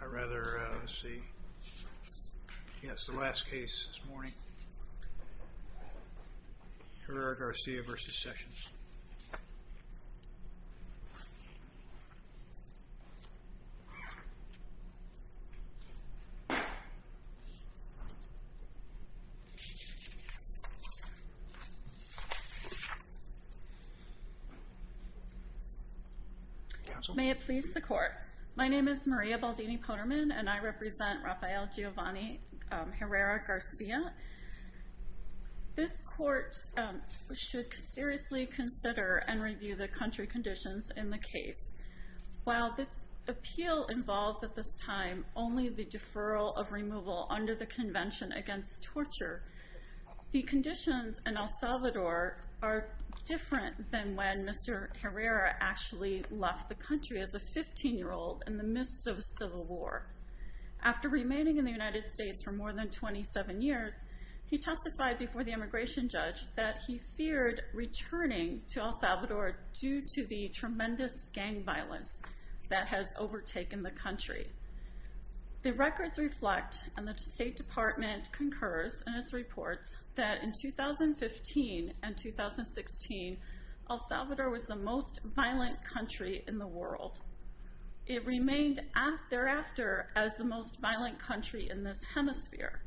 I'd rather see, yes, the last case this morning, Herrer-Garcia v. Sessions May it please the Court. My name is Maria Baldini-Poterman and I represent Rafael Giovanni Herrera-Garcia. This Court should seriously consider and review the country conditions in the case. While this appeal involves at this time only the deferral of removal under the Convention Against Torture, the conditions in El Salvador are different than when Mr. Herrera actually left the country as a 15-year-old in the midst of a civil war. After remaining in the United States for more than 27 years, he testified before the immigration judge that he feared returning to El Salvador due to the tremendous gang violence that has overtaken the country. The records reflect, and the State Department concurs in its reports, that in 2015 and 2016, El Salvador was the most violent country in the world. It remained thereafter as the most violent country in this hemisphere.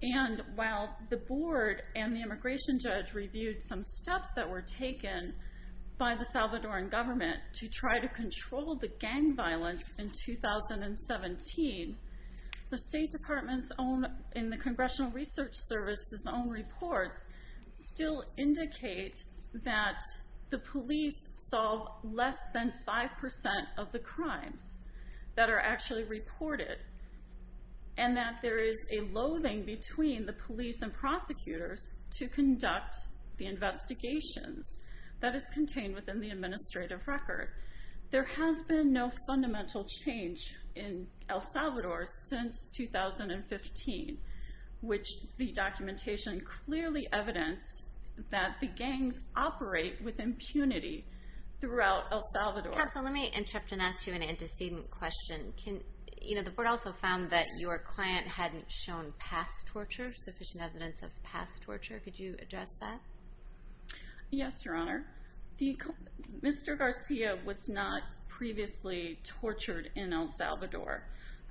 And while the board and the immigration judge reviewed some steps that were taken by the Salvadoran government to try to control the gang violence in 2017, the State Department's own, in the Congressional Research Service's own reports, still indicate that the police solve less than 5% of the gangs that are actually reported, and that there is a loathing between the police and prosecutors to conduct the investigations that is contained within the administrative record. There has been no fundamental change in El Salvador since 2015, which the documentation clearly evidenced that the gangs operate with impunity throughout El Salvador. Counsel, let me interrupt and ask you an antecedent question. You know, the board also found that your client hadn't shown past torture, sufficient evidence of past torture. Could you address that? Yes, Your Honor. Mr. Garcia was not previously tortured in El Salvador.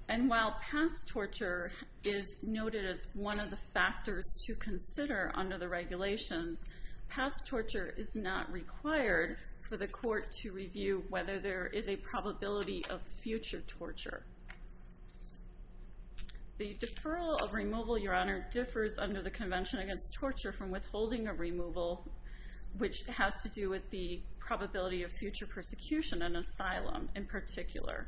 And while past torture is noted as one of the factors to consider under the regulations, past torture is not required for the court to review whether there is a probability of future torture. The deferral of removal, Your Honor, differs under the Convention Against Torture from withholding a removal, which has to do with the probability of future persecution and asylum in particular.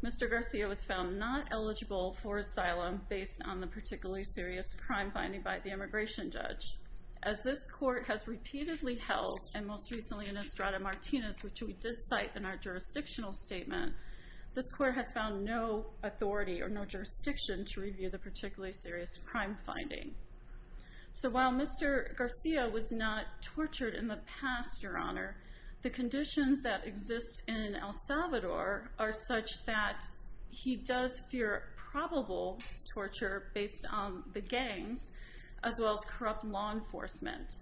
Mr. Garcia was found not eligible for asylum based on the particularly serious crime finding by the immigration judge. As this court has repeatedly held, and most recently in Estrada Martinez, which we did cite in our jurisdictional statement, this court has found no authority or no jurisdiction to review the particularly serious crime finding. So while Mr. Garcia was not tortured in the past, Your Honor, the conditions that exist in El Salvador are such that he does fear probable torture based on the gangs, as well as corrupt law enforcement.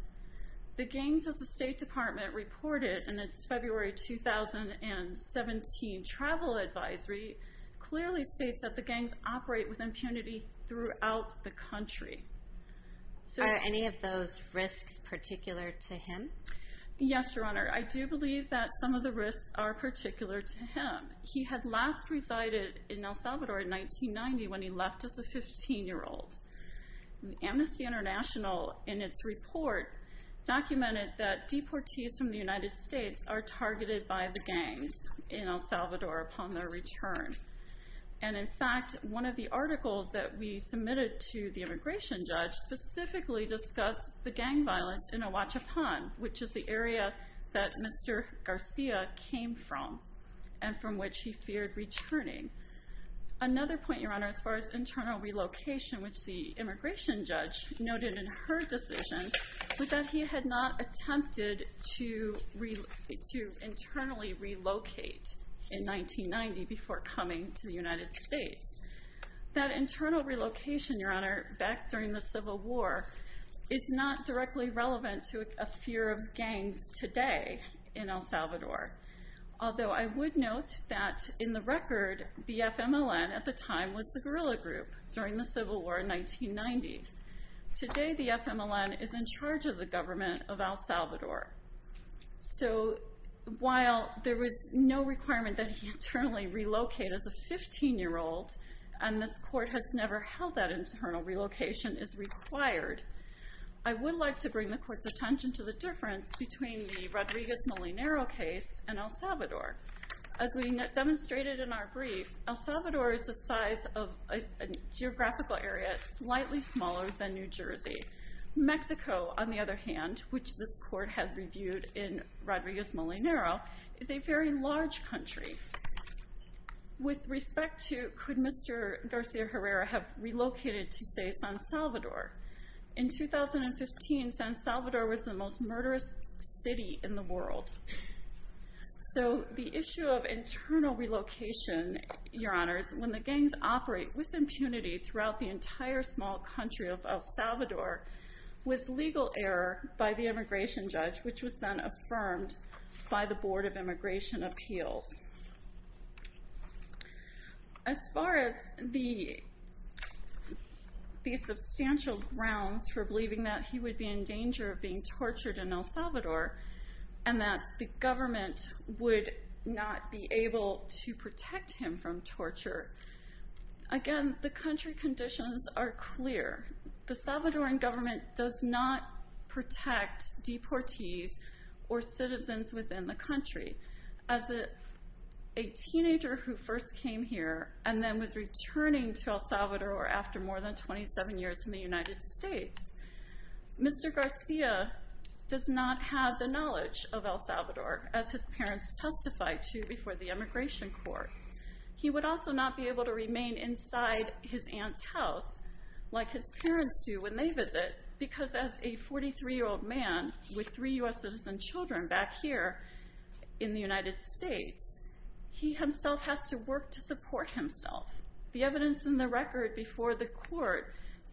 The gangs, as the State Department reported in its February 2017 travel advisory, clearly states that the gangs operate with impunity throughout the country. Are any of those risks particular to him? Yes, Your Honor. I do believe that some of the risks are particular to him. He had last resided in El Salvador in 1990 when he left as a 15-year-old. Amnesty International, in its report, documented that deportees from the United States are targeted by the gangs in El Salvador upon their return. And in fact, one of the articles that we submitted to the which is the area that Mr. Garcia came from and from which he feared returning. Another point, Your Honor, as far as internal relocation, which the immigration judge noted in her decision, was that he had not attempted to internally relocate in 1990 before coming to the United States. That internal relocation, Your Honor, back during the Civil War is not directly relevant to a fear of gangs today in El Salvador. Although I would note that in the record, the FMLN at the time was the guerrilla group during the Civil War in 1990. Today, the FMLN is in charge of the government of El Salvador. So while there was no requirement that he internally relocate as a 15-year-old, and this court has never held that internal relocation is required, I would like to bring the court's attention to the difference between the Rodriguez-Molinero case and El Salvador. As we demonstrated in our brief, El Salvador is the size of a geographical area slightly smaller than New Jersey. Mexico, on the other hand, which this court had reviewed in Rodriguez-Molinero, is a very large country. With respect to could Mr. Garcia-Herrera have relocated to, say, San Salvador? In 2015, San Salvador was the most murderous city in the world. So the issue of internal relocation, Your Honors, when the gangs operate with impunity throughout the entire small country of El Salvador was legal error by the immigration judge, which was then affirmed by the Board of Immigration Appeals. As far as the substantial grounds for believing that he would be in danger of being tortured in El Salvador, and that the government would not be able to protect him from torture, again, the country conditions are clear. The Salvadoran government does not protect deportees or citizens within the country. As a teenager who first came here and then was returning to El Salvador after more than 27 years in the United States, Mr. Garcia does not have the knowledge of El Salvador, as his parents testified to before the immigration court. He would also not be able to remain inside his aunt's house like his parents do when they visit, because as a 43-year-old man with three U.S. citizen children back here in the United States, he himself has to work to support himself. The evidence in the record before the court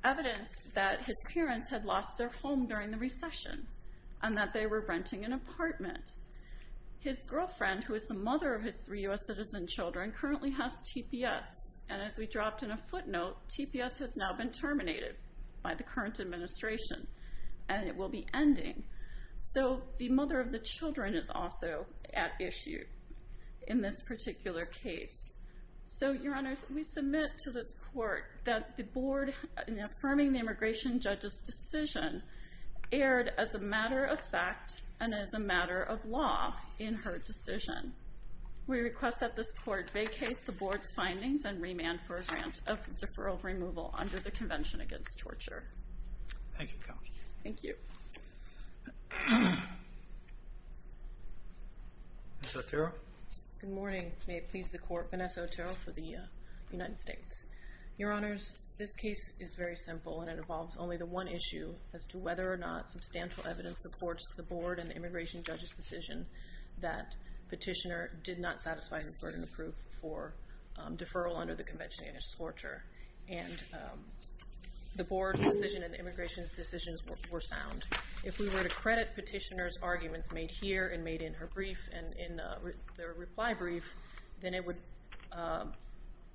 evidenced that his parents had lost their home during the recession, and that they were renting an apartment. His girlfriend, who is the mother of his three U.S. citizen children, currently has TPS. And as we dropped in a footnote, TPS has now been terminated by the current administration, and it will be ending. So the mother of the children is also at issue in this particular case. So, Your Honors, we submit to this court that the board, in affirming the immigration judge's decision, erred as a matter of fact and as a matter of law in her decision. We request that this convention against torture. Thank you. Ms. Otero? Good morning. May it please the court, Vanessa Otero for the United States. Your Honors, this case is very simple, and it involves only the one issue as to whether or not substantial evidence supports the board and the immigration judge's decision that Petitioner did not satisfy the burden of proof for deferral under the law. And the board's decision and the immigration's decision were sound. If we were to credit Petitioner's arguments made here and made in her reply brief, then it would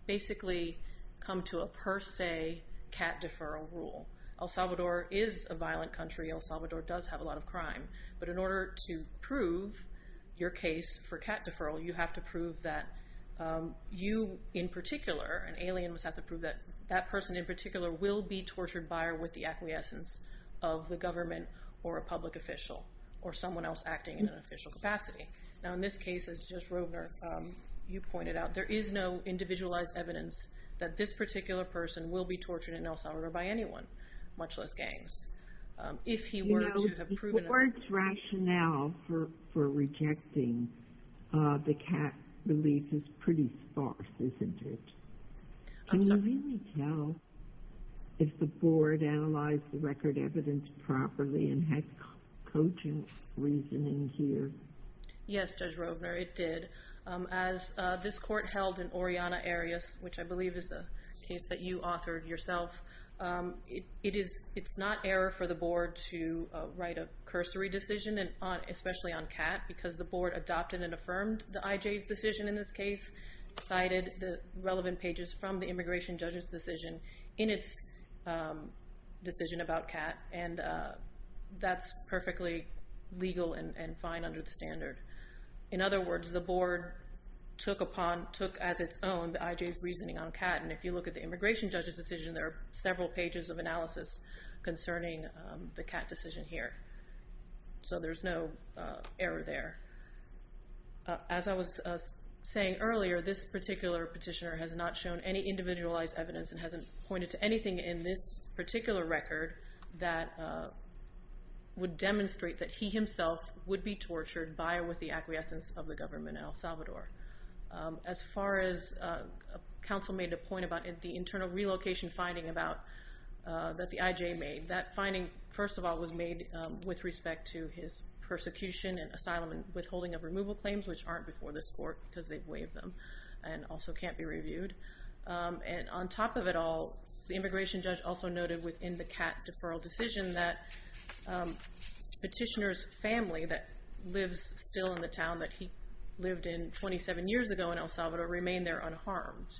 basically come to a per se cat deferral rule. El Salvador is a violent country. El Salvador does have a lot of crime. But in order to prove your case for cat deferral, you have to prove that you in particular, an alien must have to prove that that person in particular will be tortured by or with the acquiescence of the government or a public official or someone else acting in an official capacity. Now in this case, as Judge Rovner, you pointed out, there is no individualized evidence that this particular person will be tortured in El Salvador by anyone, much less gangs. If he were to have proven... You know, the board's rationale for rejecting the cat relief is pretty sparse, isn't it? I'm sorry? Can you really tell if the board analyzed the record evidence properly and had cogent reasoning here? Yes, Judge Rovner, it did. As this court held in Oriana Areas, which I believe is the case that you want, especially on cat, because the board adopted and affirmed the IJ's decision in this case, cited the relevant pages from the immigration judge's decision in its decision about cat, and that's perfectly legal and fine under the standard. In other words, the board took as its own the IJ's reasoning on cat, and if you look at the immigration judge's decision, there are several pages of analysis concerning the cat decision here. So there's no error there. As I was saying earlier, this particular petitioner has not shown any individualized evidence and hasn't pointed to anything in this particular record that would demonstrate that he himself would be tortured by or with the acquiescence of the government in El Salvador. As far as counsel made a point about the internal relocation finding that the IJ made, that persecution and asylum and withholding of removal claims, which aren't before this court because they've waived them and also can't be reviewed. And on top of it all, the immigration judge also noted within the cat deferral decision that petitioner's family that lives still in the town that he lived in 27 years ago in El Salvador remain there unharmed.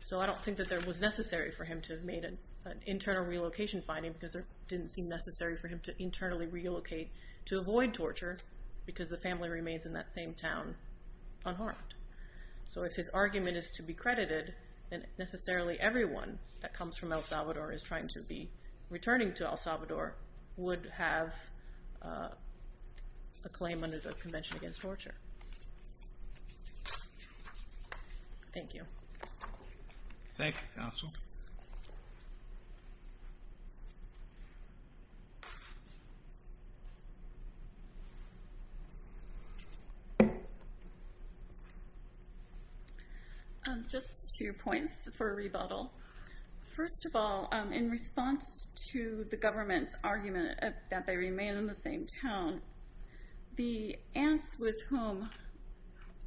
So I don't think that there was necessary for him to have made an internal relocation finding because it didn't seem necessary for him to internally relocate to avoid torture because the family remains in that same town unharmed. So if his argument is to be credited, then necessarily everyone that comes from El Salvador is trying to be returning to El Salvador would have a claim under the Convention Against Torture. Thank you. Thank you, counsel. Just two points for a rebuttal. First of all, in response to the government's argument that they remain in the same town, the aunts with whom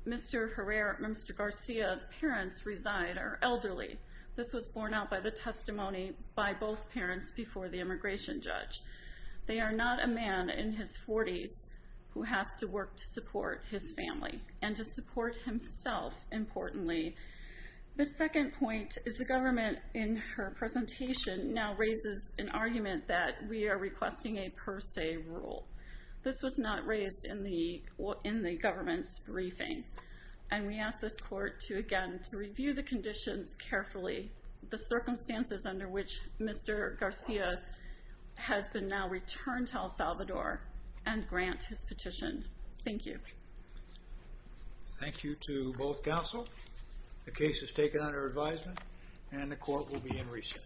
Mr. Herrera and Mr. Garcia's parents reside are elderly. This was borne out by the testimony by both parents before the immigration judge. They are not a man in his 40s who has to work to support his family and to support himself, importantly. The second point is the government in her presentation now raises an argument that we are requesting a per se rule. This was not raised in the government's briefing. And we ask this court to, again, to review the conditions carefully, the circumstances under which Mr. Garcia has been now returned to El Salvador and grant his petition. Thank you. Thank you to both counsel. The case is taken under advisement and the court will be in recess.